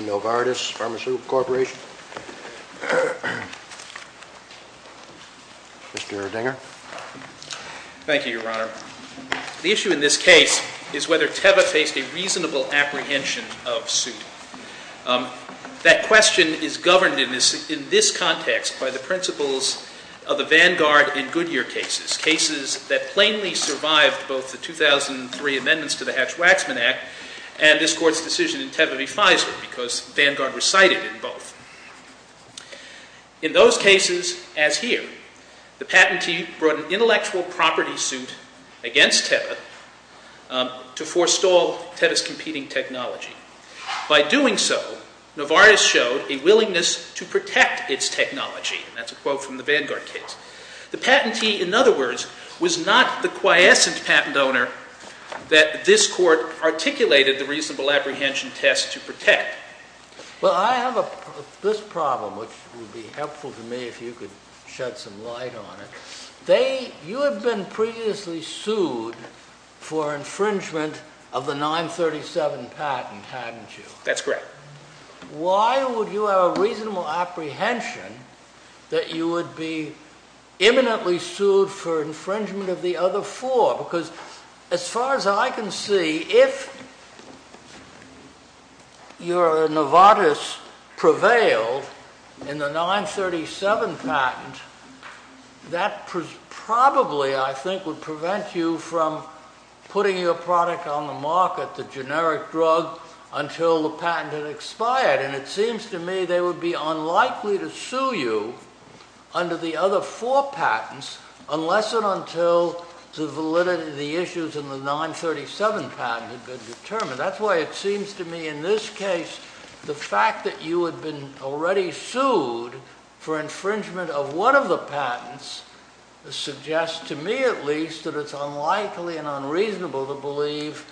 Novartis Pharmaceutical Corporation. Mr. Dinger. Thank you, Your Honor. The issue in this case is whether Teva faced a reasonable apprehension of suit. That question is governed in this context by the principles of the Vanguard and Goodyear cases, cases that plainly survived both the 2003 amendments to the Hatch-Waxman Act and this Court's decision in Teva v. Pfizer, because Vanguard recited in both. In those cases, as here, the patentee brought an intellectual property suit against Teva to forestall Teva's competing technology. By doing so, Novartis showed a willingness to protect its technology. That's a quote from the Vanguard case. The patentee, in other words, was not the quiescent patent owner that this Court articulated the reasonable apprehension test to protect. Well, I have this problem, which would be helpful to me if you could shed some light on it. You had been previously sued for infringement of the 937 patent, hadn't you? That's correct. Why would you have a reasonable apprehension that you would be imminently sued for infringement of the other four? Because as far as I can see, if your Novartis prevailed in the 937 patent, that probably, I think, would prevent you from putting your product on the market, the generic drug, until the patent had expired. And it seems to me they would be unlikely to sue you under the other four patents unless and until the validity of the issues in the 937 patent had been determined. That's why it seems to me, in this case, the fact that you had been already sued for infringement of one of the patents suggests, to me at least, that it's unlikely and unreasonable to believe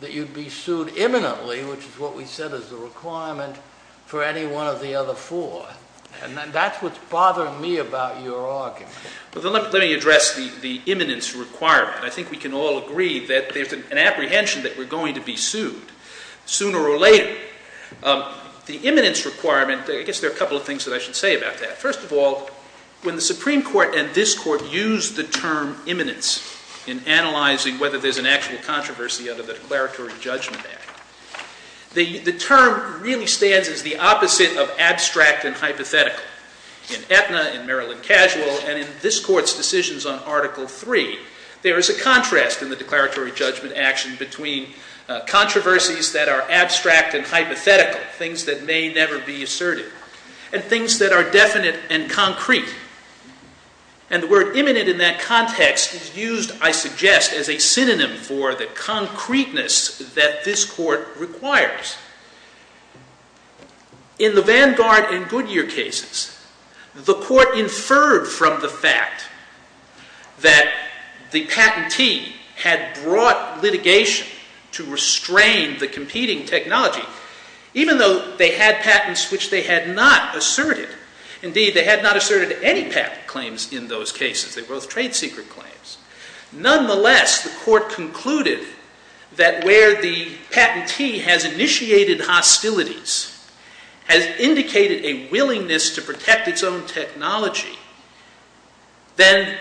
that you'd be sued imminently, which is what we said is the requirement for any one of the other four. And that's what's bothering me about your argument. Well, then let me address the imminence requirement. I think we can all agree that there's an apprehension that we're going to be sued sooner or later. The imminence requirement, I guess there are a couple of things that I should say about that. First of all, when the Supreme Court and this Court used the term imminence in analyzing whether there's an actual controversy under the Declaratory Judgment Act, the term really stands as the opposite of abstract and hypothetical. In Aetna, in Maryland Casual, and in this Court's decisions on Article III, there is a contrast in the Declaratory Judgment Act between controversies that are abstract and hypothetical, things that may never be asserted, and things that are definite and concrete. And the word imminent in that context is used, I suggest, as a synonym for the concreteness that this Court requires. In the Vanguard and Goodyear cases, the Court inferred from the fact that the patentee had brought litigation to restrain the competing technology, even though they had patents which they had not asserted. Indeed, they had not asserted any patent claims in those cases. They were both trade secret claims. Nonetheless, the Court concluded that where the patentee has initiated hostilities, has indicated a willingness to protect its own technology, then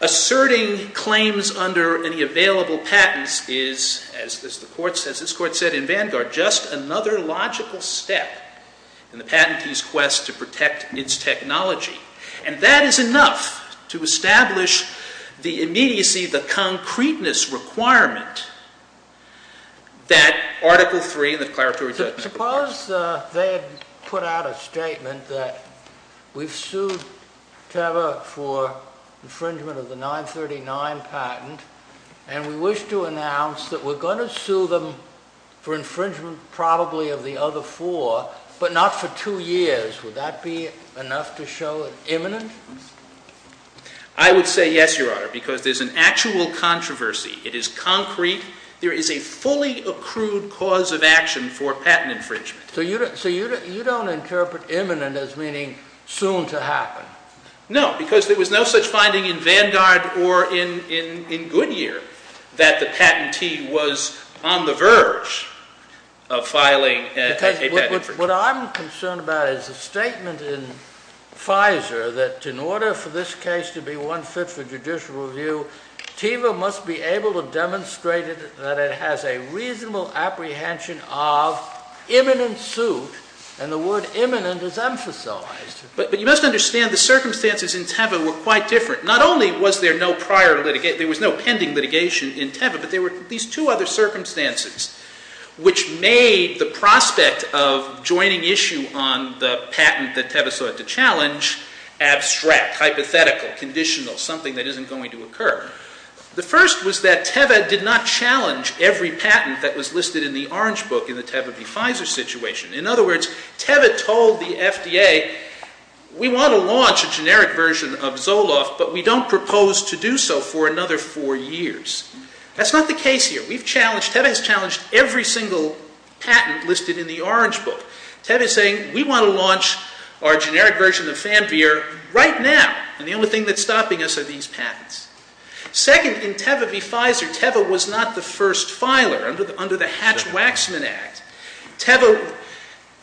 asserting claims under any available patents is, as this Court said in Vanguard, just another logical step in the patentee's quest to protect its technology. And that is enough to establish the immediacy, the concreteness requirement that Article III in the Declaratory Judgment Act requires. Suppose they had put out a statement that we've sued Teva for infringement of the 939 patent, and we wish to announce that we're going to sue them for infringement probably of the other four, but not for two years. Would that be enough to show it's imminent? I would say yes, Your Honor, because there's an actual controversy. It is concrete. There is a fully accrued cause of action for patent infringement. So you don't interpret imminent as meaning soon to happen? No, because there was no such finding in Vanguard or in Goodyear that the patentee was on the verge of filing a patent infringement. What I'm concerned about is the statement in FISA that in order for this case to be one fit for judicial review, Teva must be able to demonstrate that it has a reasonable apprehension of imminent suit, and the word imminent is emphasized. But you must understand the circumstances in Teva were quite different. Not only was there no prior litigation, there was no pending litigation in Teva, but there were at least two other circumstances which made the prospect of joining issue on the patent that Teva sought to challenge abstract, hypothetical, conditional, something that isn't going to occur. The first was that Teva did not challenge every patent that was listed in the orange book in the Teva v. FISA situation. In other words, Teva told the FDA, we want to launch a generic version of Zoloft, but we don't propose to do so for another four years. That's not the case here. Teva has challenged every single patent listed in the orange book. Teva is saying, we want to launch our generic version of Fanveer right now, and the only thing that's stopping us are these patents. Second, in Teva v. FISA, Teva was not the first filer under the Hatch-Waxman Act. Teva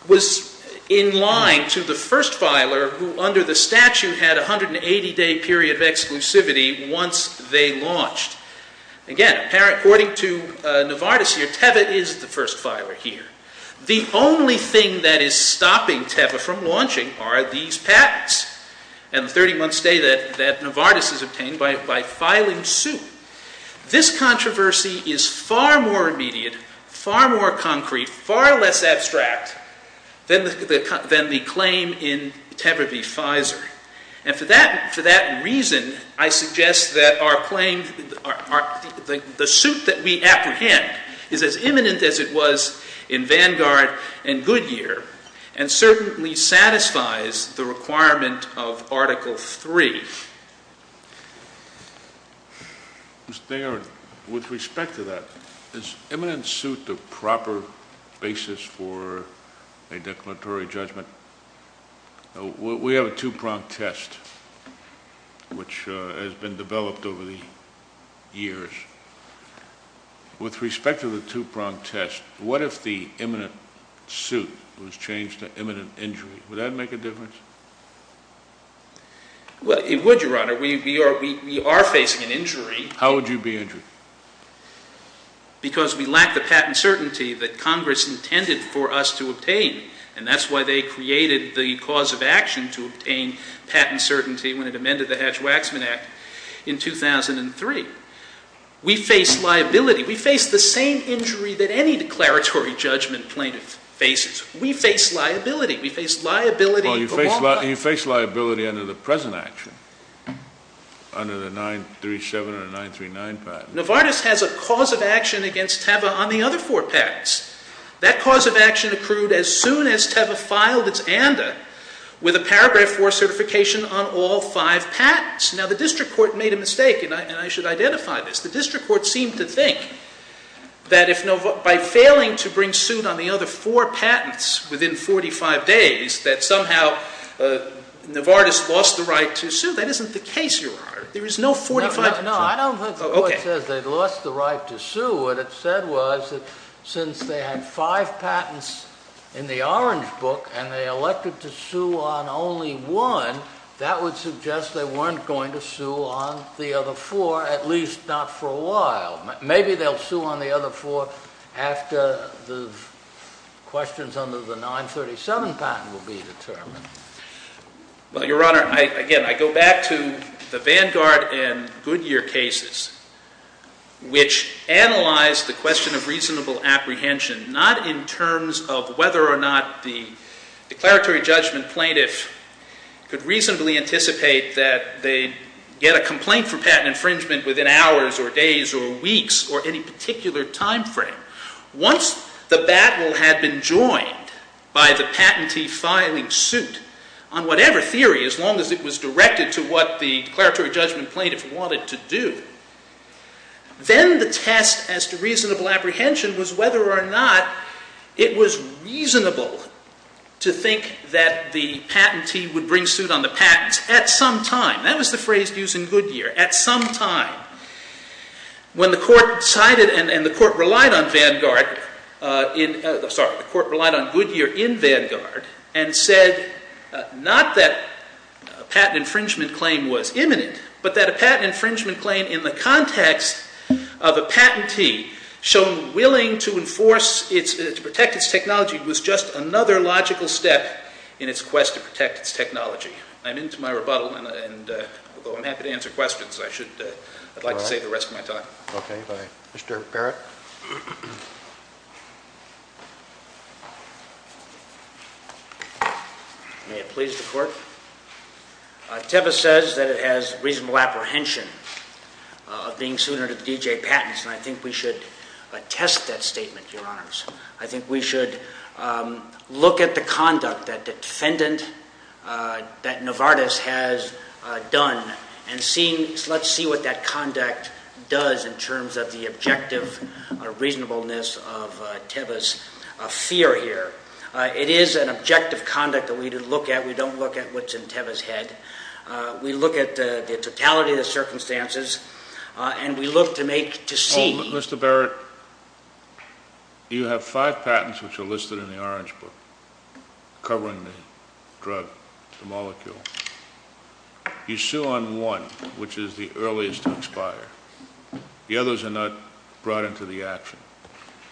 was in line to the first filer who, under the statute, had a 180-day period of exclusivity once they launched. Again, according to Novartis here, Teva is the first filer here. The only thing that is stopping Teva from launching are these patents and the 30-month stay that Novartis has obtained by filing suit. This controversy is far more immediate, far more concrete, far less abstract than the claim in Teva v. FISA. And for that reason, I suggest that our claim, the suit that we apprehend, is as imminent as it was in Vanguard and Goodyear, and certainly satisfies the requirement of Article III. Mr. Theron, with respect to that, is imminent suit the proper basis for a declaratory judgment? We have a two-pronged test, which has been developed over the years. With respect to the two-pronged test, what if the imminent suit was changed to imminent injury? Would that make a difference? It would, Your Honor. We are facing an injury. How would you be injured? Because we lack the patent certainty that Congress intended for us to obtain, and that's why they created the cause of action to obtain patent certainty when it amended the Hatch-Waxman Act in 2003. We face liability. We face the same injury that any declaratory judgment plaintiff faces. We face liability. You face liability under the present action, under the 937 and 939 patents. Novartis has a cause of action against Teva on the other four patents. That cause of action accrued as soon as Teva filed its ANDA with a Paragraph IV certification on all five patents. Now, the district court made a mistake, and I should identify this. The district court seemed to think that by failing to bring suit on the other four patents within 45 days, that somehow Novartis lost the right to sue. That isn't the case, Your Honor. There is no 45- No, I don't think the court says they lost the right to sue. What it said was that since they had five patents in the Orange Book and they elected to sue on only one, that would suggest they weren't going to sue on the other four, at least not for a while. Maybe they'll sue on the other four after the questions under the 937 patent will be determined. Well, Your Honor, again, I go back to the Vanguard and Goodyear cases, which analyzed the question of reasonable apprehension, not in terms of whether or not the declaratory judgment plaintiff could reasonably anticipate that they'd get a complaint for patent infringement within hours or days or weeks or any particular time frame. Once the battle had been joined by the patentee filing suit on whatever theory, as long as it was directed to what the declaratory judgment plaintiff wanted to do, then the test as to reasonable apprehension was whether or not it was reasonable to think that the patentee would bring suit on the patents at some time. That was the phrase used in Goodyear, at some time. When the court decided, and the court relied on Vanguard, sorry, the court relied on Goodyear in Vanguard and said not that a patent infringement claim was imminent, but that a patent infringement claim in the context of a patentee shown willing to enforce, to protect its technology was just another logical step in its quest to protect its technology. I'm into my rebuttal, and although I'm happy to answer questions, I'd like to save the rest of my time. Okay, bye. Mr. Barrett? May it please the Court? Tebas says that it has reasonable apprehension of being suited to the DJ patents, and I think we should attest that statement, Your Honors. I think we should look at the conduct that the defendant, that Novartis has done, and let's see what that conduct does in terms of the objective reasonableness of Tebas' fear here. It is an objective conduct that we look at. We don't look at what's in Tebas' head. We look at the totality of the circumstances, and we look to make, to see. Mr. Barrett, you have five patents, which are listed in the Orange Book, covering the drug, the molecule. You sue on one, which is the earliest to expire. The others are not brought into the action.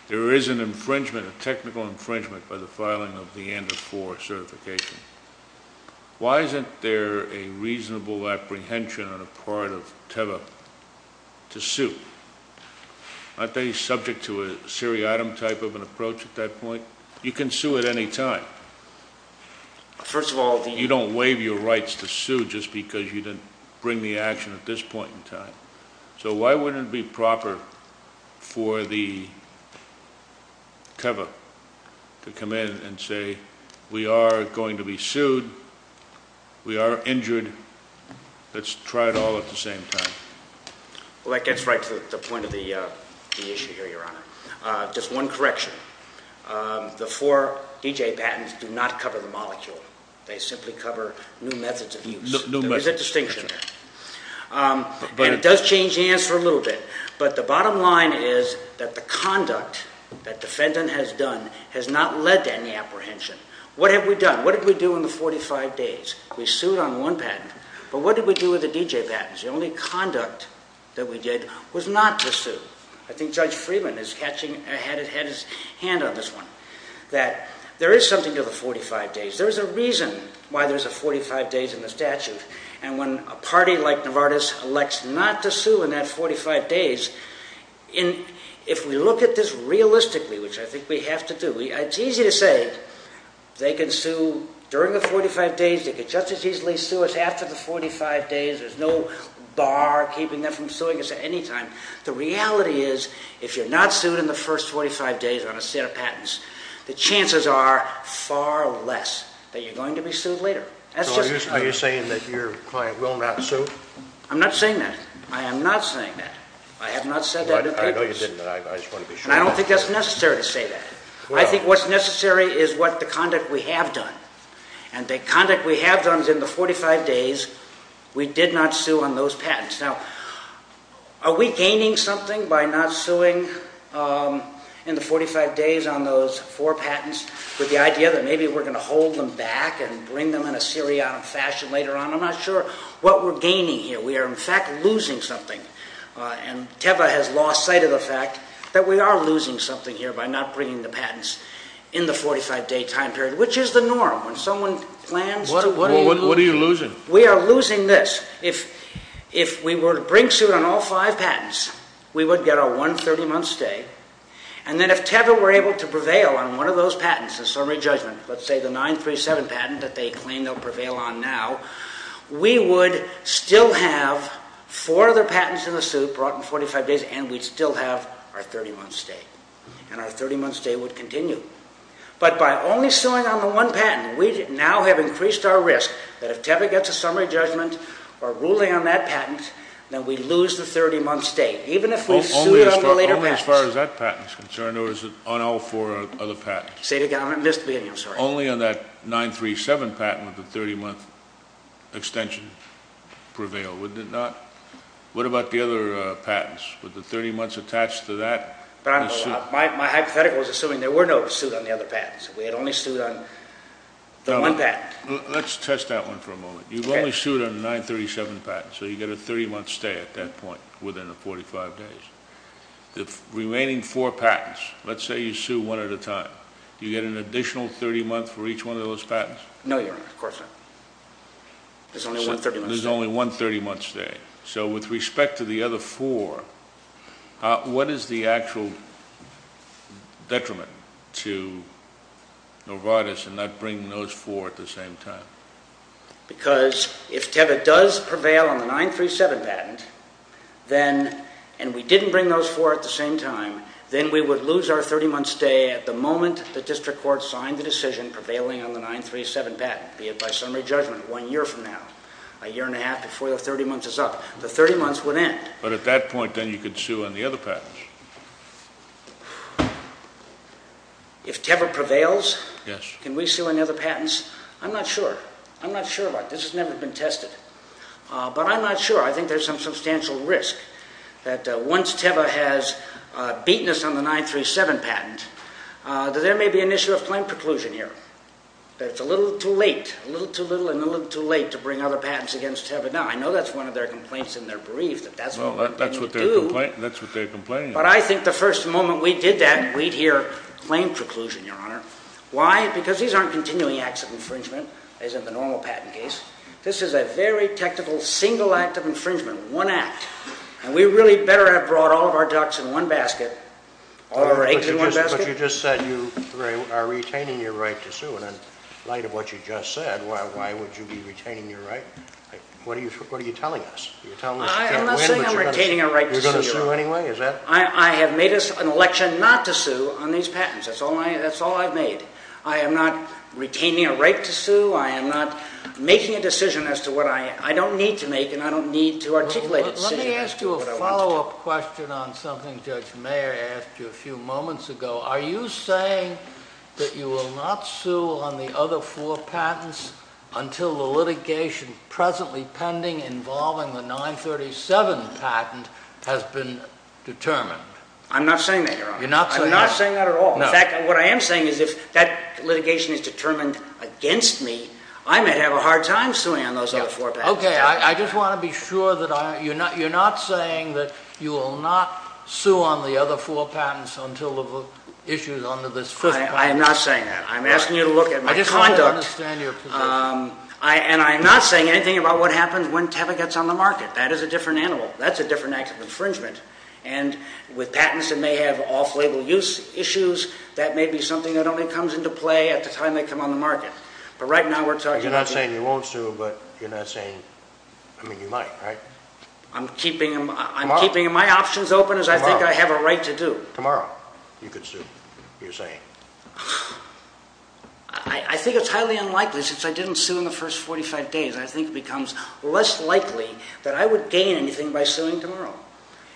There is an infringement, a technical infringement, by the filing of the ANDA-IV certification. Why isn't there a reasonable apprehension on the part of Tebas to sue? Aren't they subject to a seriatim type of an approach at that point? You can sue at any time. First of all, you don't waive your rights to sue just because you didn't bring the action at this point in time. So why wouldn't it be proper for the COVA to come in and say, We are going to be sued. We are injured. Let's try it all at the same time. Well, that gets right to the point of the issue here, Your Honor. Just one correction. The four D.J. patents do not cover the molecule. They simply cover new methods of use. There is a distinction there. And it does change the answer a little bit. But the bottom line is that the conduct that defendant has done has not led to any apprehension. What have we done? What did we do in the 45 days? We sued on one patent. But what did we do with the D.J. patents? The only conduct that we did was not to sue. I think Judge Freeman had his hand on this one, that there is something to the 45 days. There is a reason why there is a 45 days in the statute. And when a party like Novartis elects not to sue in that 45 days, if we look at this realistically, which I think we have to do, it is easy to say they can sue during the 45 days, they can just as easily sue us after the 45 days, there is no bar keeping them from suing us at any time. The reality is if you are not sued in the first 45 days on a set of patents, the chances are far less that you are going to be sued later. So are you saying that your client will not sue? I am not saying that. I am not saying that. I have not said that to papers. I know you didn't, but I just want to be sure. And I don't think that is necessary to say that. I think what is necessary is what the conduct we have done. And the conduct we have done is in the 45 days we did not sue on those patents. Now, are we gaining something by not suing in the 45 days on those four patents with the idea that maybe we are going to hold them back and bring them in a seriatim fashion later on? I am not sure what we are gaining here. We are, in fact, losing something. And TEVA has lost sight of the fact that we are losing something here by not bringing the patents in the 45-day time period, which is the norm. What are you losing? We are losing this. If we were to bring suit on all five patents, we would get a one 30-month stay. And then if TEVA were able to prevail on one of those patents, a summary judgment, let's say the 937 patent that they claim they will prevail on now, we would still have four other patents in the suit brought in 45 days and we would still have our 30-month stay. And our 30-month stay would continue. But by only suing on the one patent, we now have increased our risk that if TEVA gets a summary judgment or ruling on that patent, then we lose the 30-month stay, even if we sued on the later patents. As far as that patent is concerned, or is it on all four other patents? Say it again. I missed the beginning. I'm sorry. Only on that 937 patent would the 30-month extension prevail, wouldn't it not? What about the other patents? Would the 30 months attached to that in the suit? My hypothetical is assuming there were no suit on the other patents. We had only sued on the one patent. Let's test that one for a moment. You've only sued on the 937 patent, so you get a 30-month stay at that point within the 45 days. The remaining four patents, let's say you sue one at a time, do you get an additional 30 months for each one of those patents? No, Your Honor. Of course not. There's only one 30-month stay. There's only one 30-month stay. So with respect to the other four, what is the actual detriment to Novartis in not bringing those four at the same time? Because if Teva does prevail on the 937 patent, and we didn't bring those four at the same time, then we would lose our 30-month stay at the moment the district court signed the decision prevailing on the 937 patent, be it by summary judgment one year from now, a year and a half before the 30 months is up. The 30 months would end. But at that point, then, you could sue on the other patents. If Teva prevails, can we sue on the other patents? I'm not sure. I'm not sure about this. This has never been tested. But I'm not sure. I think there's some substantial risk that once Teva has beaten us on the 937 patent, that there may be an issue of claim preclusion here. That it's a little too late, a little too little and a little too late, to bring other patents against Teva. Now, I know that's one of their complaints in their brief, that that's what they do. Well, that's what they're complaining about. But I think the first moment we did that, we'd hear claim preclusion, Your Honor. Why? Because these aren't continuing acts of infringement, as in the normal patent case. This is a very technical single act of infringement, one act. And we really better have brought all of our ducks in one basket or our eggs in one basket. But you just said you are retaining your right to sue. And in light of what you just said, why would you be retaining your right? What are you telling us? I am not saying I'm retaining a right to sue. You're going to sue anyway? I have made an election not to sue on these patents. That's all I've made. I am not retaining a right to sue. I am not making a decision as to what I don't need to make, and I don't need to articulate a decision. Let me ask you a follow-up question on something Judge Mayer asked you a few moments ago. Are you saying that you will not sue on the other four patents until the litigation presently pending involving the 937 patent has been determined? I'm not saying that, Your Honor. You're not saying that? I'm not saying that at all. In fact, what I am saying is if that litigation is determined against me, I may have a hard time suing on those other four patents. Okay. I just want to be sure that you're not saying that you will not sue on the other four patents until the issue is under this fifth patent. I am not saying that. I'm asking you to look at my conduct. I just want to understand your position. And I am not saying anything about what happens when Teva gets on the market. That is a different animal. That's a different act of infringement. And with patents that may have off-label use issues, that may be something that only comes into play at the time they come on the market. But right now we're talking about the… You're not saying you won't sue, but you're not saying… I mean, you might, right? I'm keeping my options open as I think I have a right to do. Tomorrow you could sue, you're saying. I think it's highly unlikely. Since I didn't sue in the first 45 days, I think it becomes less likely that I would gain anything by suing tomorrow.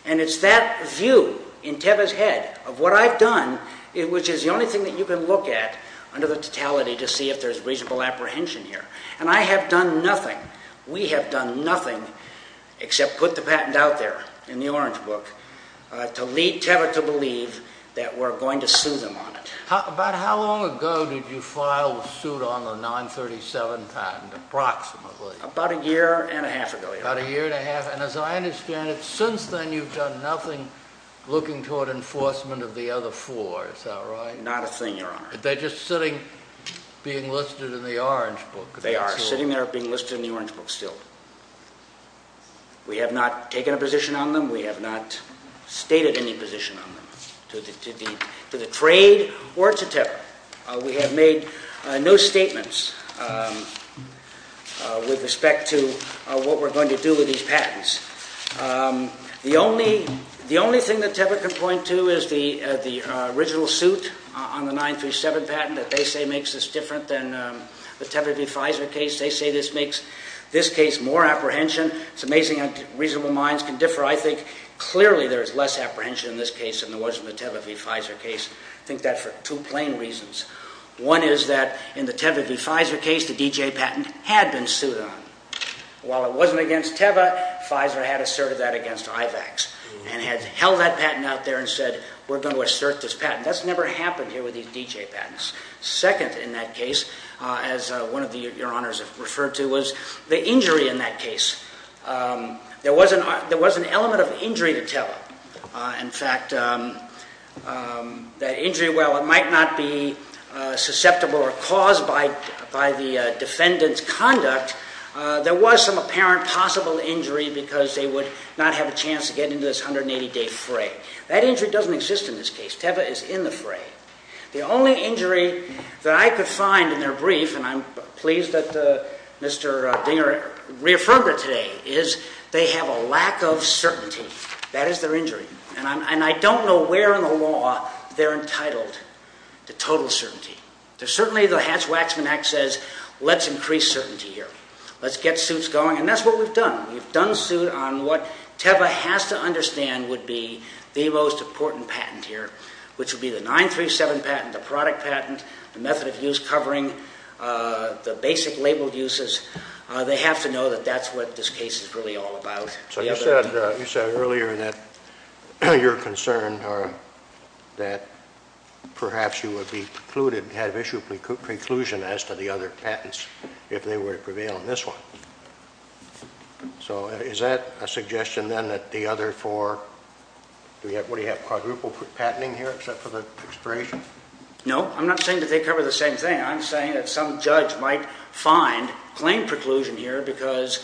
And it's that view in Teva's head of what I've done, which is the only thing that you can look at under the totality to see if there's reasonable apprehension here. And I have done nothing. We have done nothing except put the patent out there in the orange book to lead Teva to believe that we're going to sue them on it. About how long ago did you file a suit on the 937 patent approximately? About a year and a half ago. About a year and a half. And as I understand it, since then you've done nothing looking toward enforcement of the other four. Is that right? Not a thing, Your Honor. They're just sitting being listed in the orange book. They are sitting there being listed in the orange book still. We have not taken a position on them. We have not stated any position on them to the trade or to Teva. We have made no statements with respect to what we're going to do with these patents. The only thing that Teva can point to is the original suit on the 937 patent that they say makes this different than the Teva v. Pfizer case. They say this makes this case more apprehension. It's amazing how reasonable minds can differ. I think clearly there is less apprehension in this case than there was in the Teva v. Pfizer case. I think that for two plain reasons. One is that in the Teva v. Pfizer case, the D.J. patent had been sued on. While it wasn't against Teva, Pfizer had asserted that against IVAX and had held that patent out there and said, we're going to assert this patent. That's never happened here with these D.J. patents. Second in that case, as one of Your Honors have referred to, There was an element of injury to Teva. In fact, that injury, while it might not be susceptible or caused by the defendant's conduct, there was some apparent possible injury because they would not have a chance to get into this 180-day fray. That injury doesn't exist in this case. Teva is in the fray. The only injury that I could find in their brief, and I'm pleased that Mr. Dinger reaffirmed it today, is they have a lack of certainty. That is their injury. And I don't know where in the law they're entitled to total certainty. Certainly the Hatch-Waxman Act says, let's increase certainty here. Let's get suits going, and that's what we've done. We've done suit on what Teva has to understand would be the most important patent here, which would be the 937 patent, the product patent, the method of use covering, the basic labeled uses. They have to know that that's what this case is really all about. So you said earlier that you're concerned that perhaps you would be precluded, have issued a preclusion as to the other patents if they were to prevail in this one. So is that a suggestion then that the other four, what do you have, quadruple patenting here except for the expiration? No, I'm not saying that they cover the same thing. I'm saying that some judge might find plain preclusion here because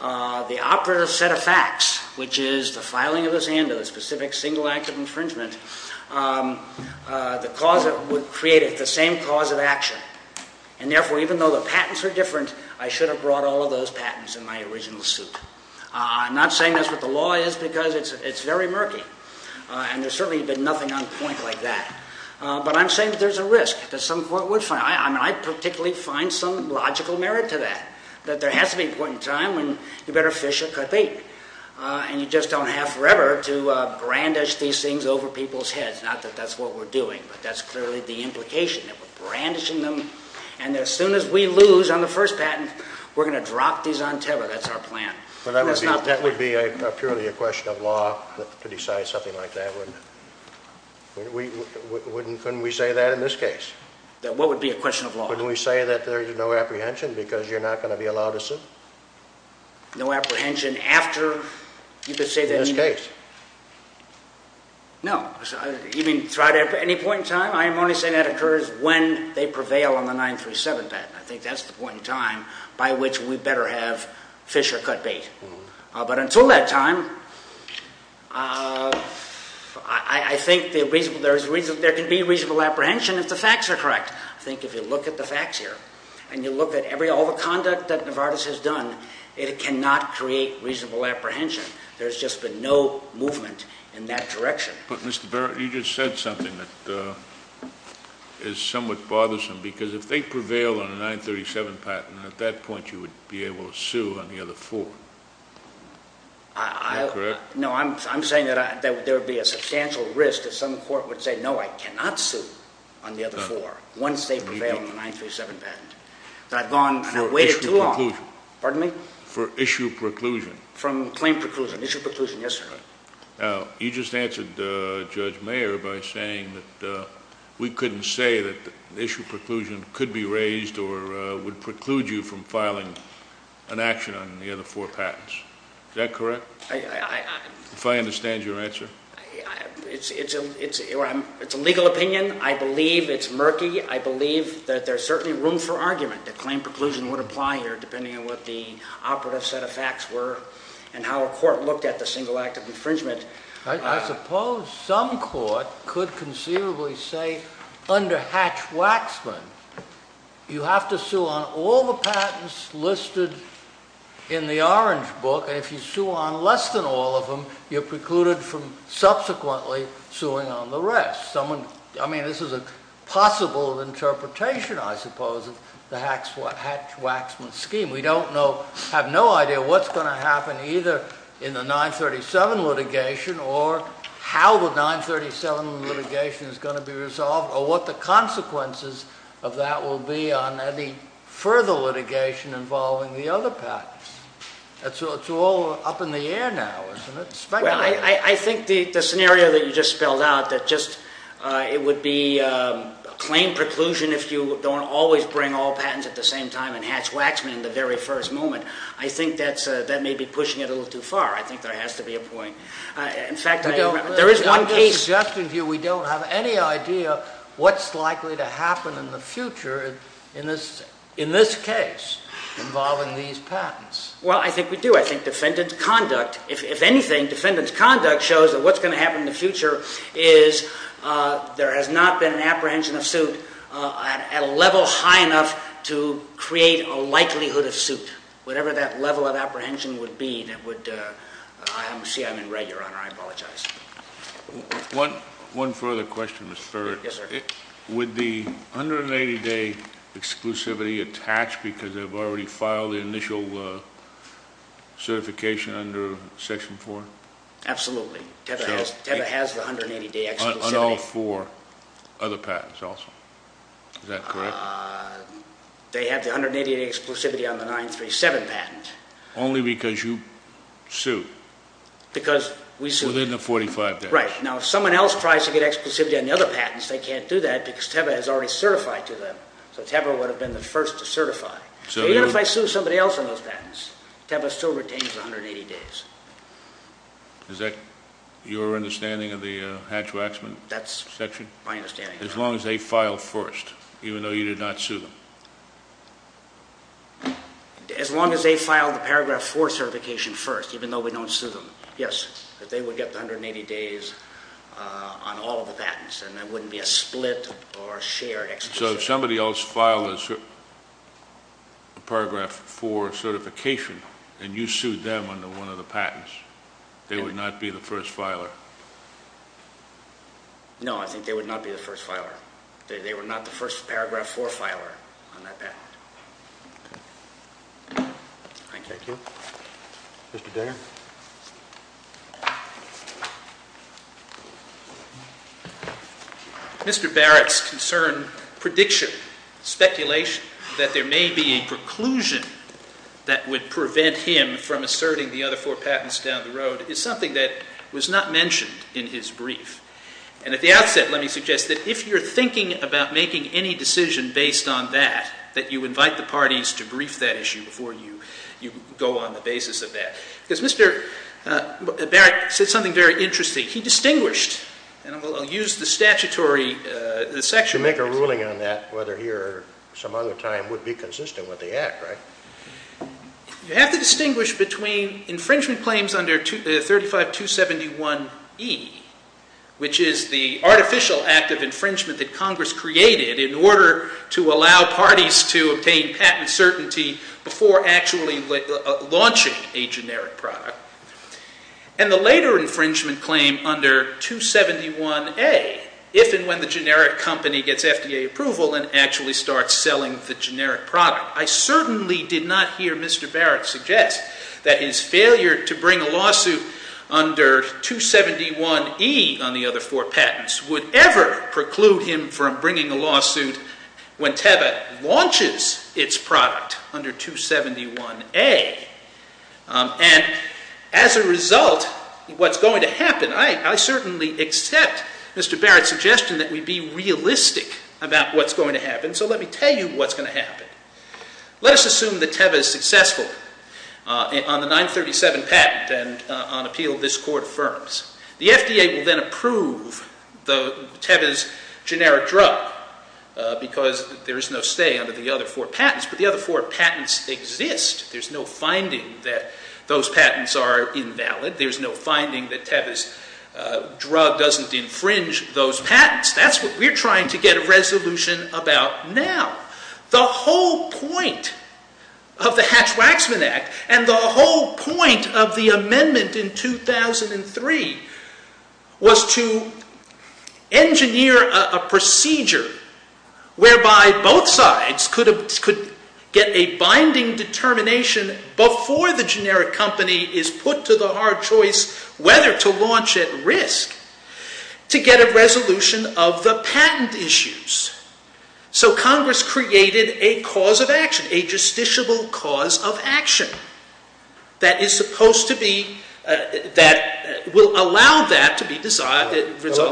the operative set of facts, which is the filing of this and a specific single act of infringement, would create the same cause of action. And therefore, even though the patents are different, I should have brought all of those patents in my original suit. I'm not saying that's what the law is because it's very murky, and there's certainly been nothing on point like that. But I'm saying that there's a risk that some court would find. I particularly find some logical merit to that, that there has to be a point in time when you better fish or cut bait, and you just don't have forever to brandish these things over people's heads. Not that that's what we're doing, but that's clearly the implication, that we're brandishing them, and as soon as we lose on the first patent, we're going to drop these on Tebber. That's our plan. That would be purely a question of law to decide something like that, wouldn't it? Couldn't we say that in this case? What would be a question of law? Couldn't we say that there's no apprehension because you're not going to be allowed a suit? No apprehension after, you could say that in this case. No. You mean throughout any point in time? I'm only saying that occurs when they prevail on the 937 patent. I think that's the point in time by which we better have fish or cut bait. But until that time, I think there can be reasonable apprehension if the facts are correct. I think if you look at the facts here, and you look at all the conduct that Novartis has done, it cannot create reasonable apprehension. There's just been no movement in that direction. But, Mr. Barrett, you just said something that is somewhat bothersome, because if they prevail on the 937 patent, at that point you would be able to sue on the other four. Am I correct? No, I'm saying that there would be a substantial risk if some court would say, no, I cannot sue on the other four once they prevail on the 937 patent, that I've gone and I've waited too long. For issue preclusion. Pardon me? For issue preclusion. From claim preclusion. Issue preclusion, yes, sir. You just answered Judge Mayer by saying that we couldn't say that issue preclusion could be raised or would preclude you from filing an action on the other four patents. Is that correct? If I understand your answer? It's a legal opinion. I believe it's murky. I believe that there's certainly room for argument that claim preclusion would apply here, depending on what the operative set of facts were and how a court looked at the single act of infringement. I suppose some court could conceivably say, under Hatch-Waxman, you have to sue on all the patents listed in the orange book, and if you sue on less than all of them, you're precluded from subsequently suing on the rest. I mean, this is a possible interpretation, I suppose, of the Hatch-Waxman scheme. We have no idea what's going to happen either in the 937 litigation or how the 937 litigation is going to be resolved or what the consequences of that will be on any further litigation involving the other patents. It's all up in the air now, isn't it? Well, I think the scenario that you just spelled out, that it would be a claim preclusion if you don't always bring all patents at the same time in Hatch-Waxman in the very first moment, I think that may be pushing it a little too far. I think there has to be a point. In fact, there is one case... Just in view, we don't have any idea what's likely to happen in the future in this case involving these patents. Well, I think we do. I think defendant's conduct, if anything, defendant's conduct shows that what's going to happen in the future is there has not been an apprehension of suit at a level high enough to create a likelihood of suit. Whatever that level of apprehension would be that would... I see I'm in red, Your Honor. I apologize. One further question, Mr. Furd. Yes, sir. Would the 180-day exclusivity attach because they've already filed the initial certification under Section 4? Absolutely. TEVA has the 180-day exclusivity. On all four other patents also. Is that correct? They have the 180-day exclusivity on the 937 patent. Only because you sued. Because we sued. Within the 45 days. Right. Now, if someone else tries to get exclusivity on the other patents, they can't do that because TEVA has already certified to them. So TEVA would have been the first to certify. So even if I sue somebody else on those patents, TEVA still retains the 180 days. Is that your understanding of the Hatch-Waxman section? That's my understanding. As long as they file first, even though you did not sue them? As long as they file the Paragraph 4 certification first, even though we don't sue them, yes. But they would get the 180 days on all of the patents, and that wouldn't be a split or a shared exclusivity. So if somebody else filed a Paragraph 4 certification and you sued them under one of the patents, they would not be the first filer? No, I think they would not be the first filer. They were not the first Paragraph 4 filer on that patent. Thank you. Mr. Barrett's concern, prediction, speculation, that there may be a preclusion that would prevent him from asserting the other four patents down the road is something that was not mentioned in his brief. And at the outset, let me suggest that if you're thinking about making any decision based on that, before you make that decision. Go on the basis of that. Because Mr. Barrett said something very interesting. He distinguished, and I'll use the statutory section. To make a ruling on that, whether he or some other time would be consistent with the Act, right? You have to distinguish between infringement claims under 35271E, which is the artificial act of infringement that Congress created in order to allow parties to obtain patent certainty before actually launching a generic product. And the later infringement claim under 271A, if and when the generic company gets FDA approval and actually starts selling the generic product. I certainly did not hear Mr. Barrett suggest that his failure to bring a lawsuit under 271E on the other four patents would ever preclude him from bringing a lawsuit when TEVA launches its product under 271A. And as a result, what's going to happen, I certainly accept Mr. Barrett's suggestion that we be realistic about what's going to happen. So let me tell you what's going to happen. Let us assume that TEVA is successful on the 937 patent and on appeal this Court affirms. The FDA will then approve TEVA's generic drug because there is no stay under the other four patents. But the other four patents exist. There's no finding that those patents are invalid. There's no finding that TEVA's drug doesn't infringe those patents. That's what we're trying to get a resolution about now. The whole point of the Hatch-Waxman Act and the whole point of the amendment in 2003 was to engineer a procedure whereby both sides could get a binding determination before the generic company is put to the hard choice whether to launch at risk to get a resolution of the patent issues. So Congress created a cause of action, a justiciable cause of action, that will allow that to be resolved.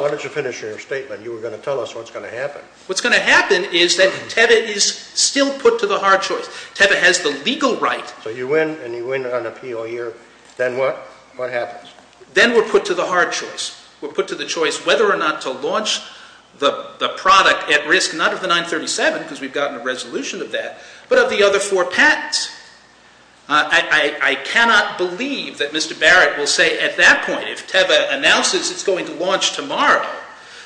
Why don't you finish your statement? You were going to tell us what's going to happen. What's going to happen is that TEVA is still put to the hard choice. TEVA has the legal right. So you win and you win on appeal here. Then what? What happens? Then we're put to the hard choice. We're put to the choice whether or not to launch the product at risk, not of the 937 because we've gotten a resolution of that, but of the other four patents. I cannot believe that Mr. Barrett will say at that point, if TEVA announces it's going to launch tomorrow,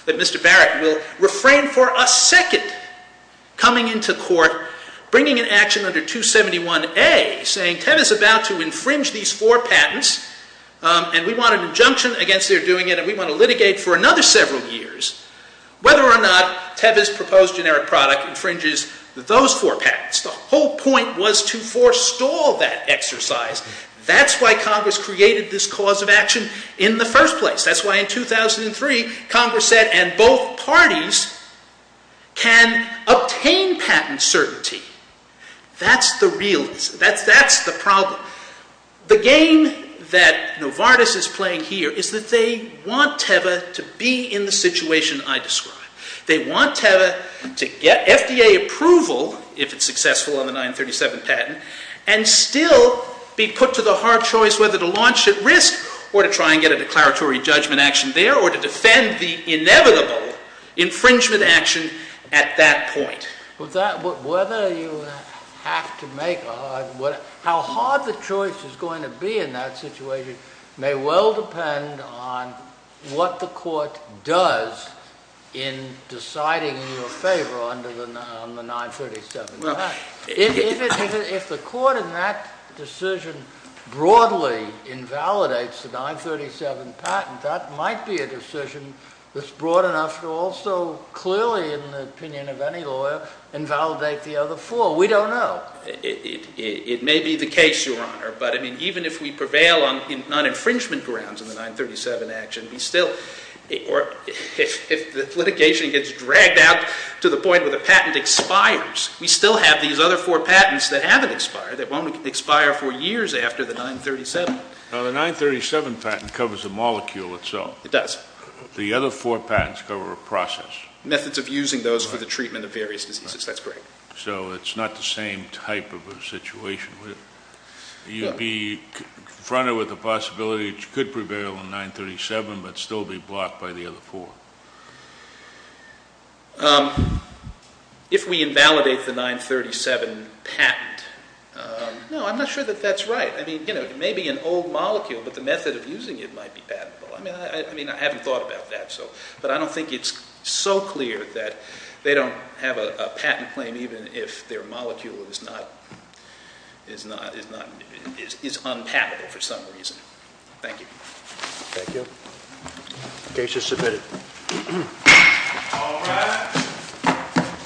that Mr. Barrett will refrain for a second coming into court, bringing an action under 271A, saying TEVA is about to infringe these four patents and we want an injunction against their doing it and we want to litigate for another several years whether or not TEVA's proposed generic product infringes those four patents. The whole point was to forestall that exercise. That's why Congress created this cause of action in the first place. That's why in 2003, Congress said, and both parties can obtain patent certainty. That's the realism. That's the problem. The game that Novartis is playing here is that they want TEVA to be in the situation I described. They want TEVA to get FDA approval, if it's successful on the 937 patent, and still be put to the hard choice whether to launch at risk or to try and get a declaratory judgment action there or to defend the inevitable infringement action at that point. Whether you have to make a hard choice, how hard the choice is going to be in that situation may well depend on what the court does in deciding in your favor on the 937 patent. If the court in that decision broadly invalidates the 937 patent, that might be a decision that's broad enough to also clearly, in the opinion of any lawyer, invalidate the other four. We don't know. It may be the case, Your Honor, but even if we prevail on non-infringement grounds in the 937 action, or if the litigation gets dragged out to the point where the patent expires, we still have these other four patents that haven't expired, that won't expire for years after the 937. The 937 patent covers the molecule itself. It does. The other four patents cover a process. Methods of using those for the treatment of various diseases. That's correct. So it's not the same type of a situation. You'd be confronted with the possibility that you could prevail on 937 but still be blocked by the other four. If we invalidate the 937 patent, no, I'm not sure that that's right. It may be an old molecule, but the method of using it might be patentable. I haven't thought about that. But I don't think it's so clear that they don't have a patent claim even if their molecule is unpatentable for some reason. Thank you. Thank you. Case is submitted.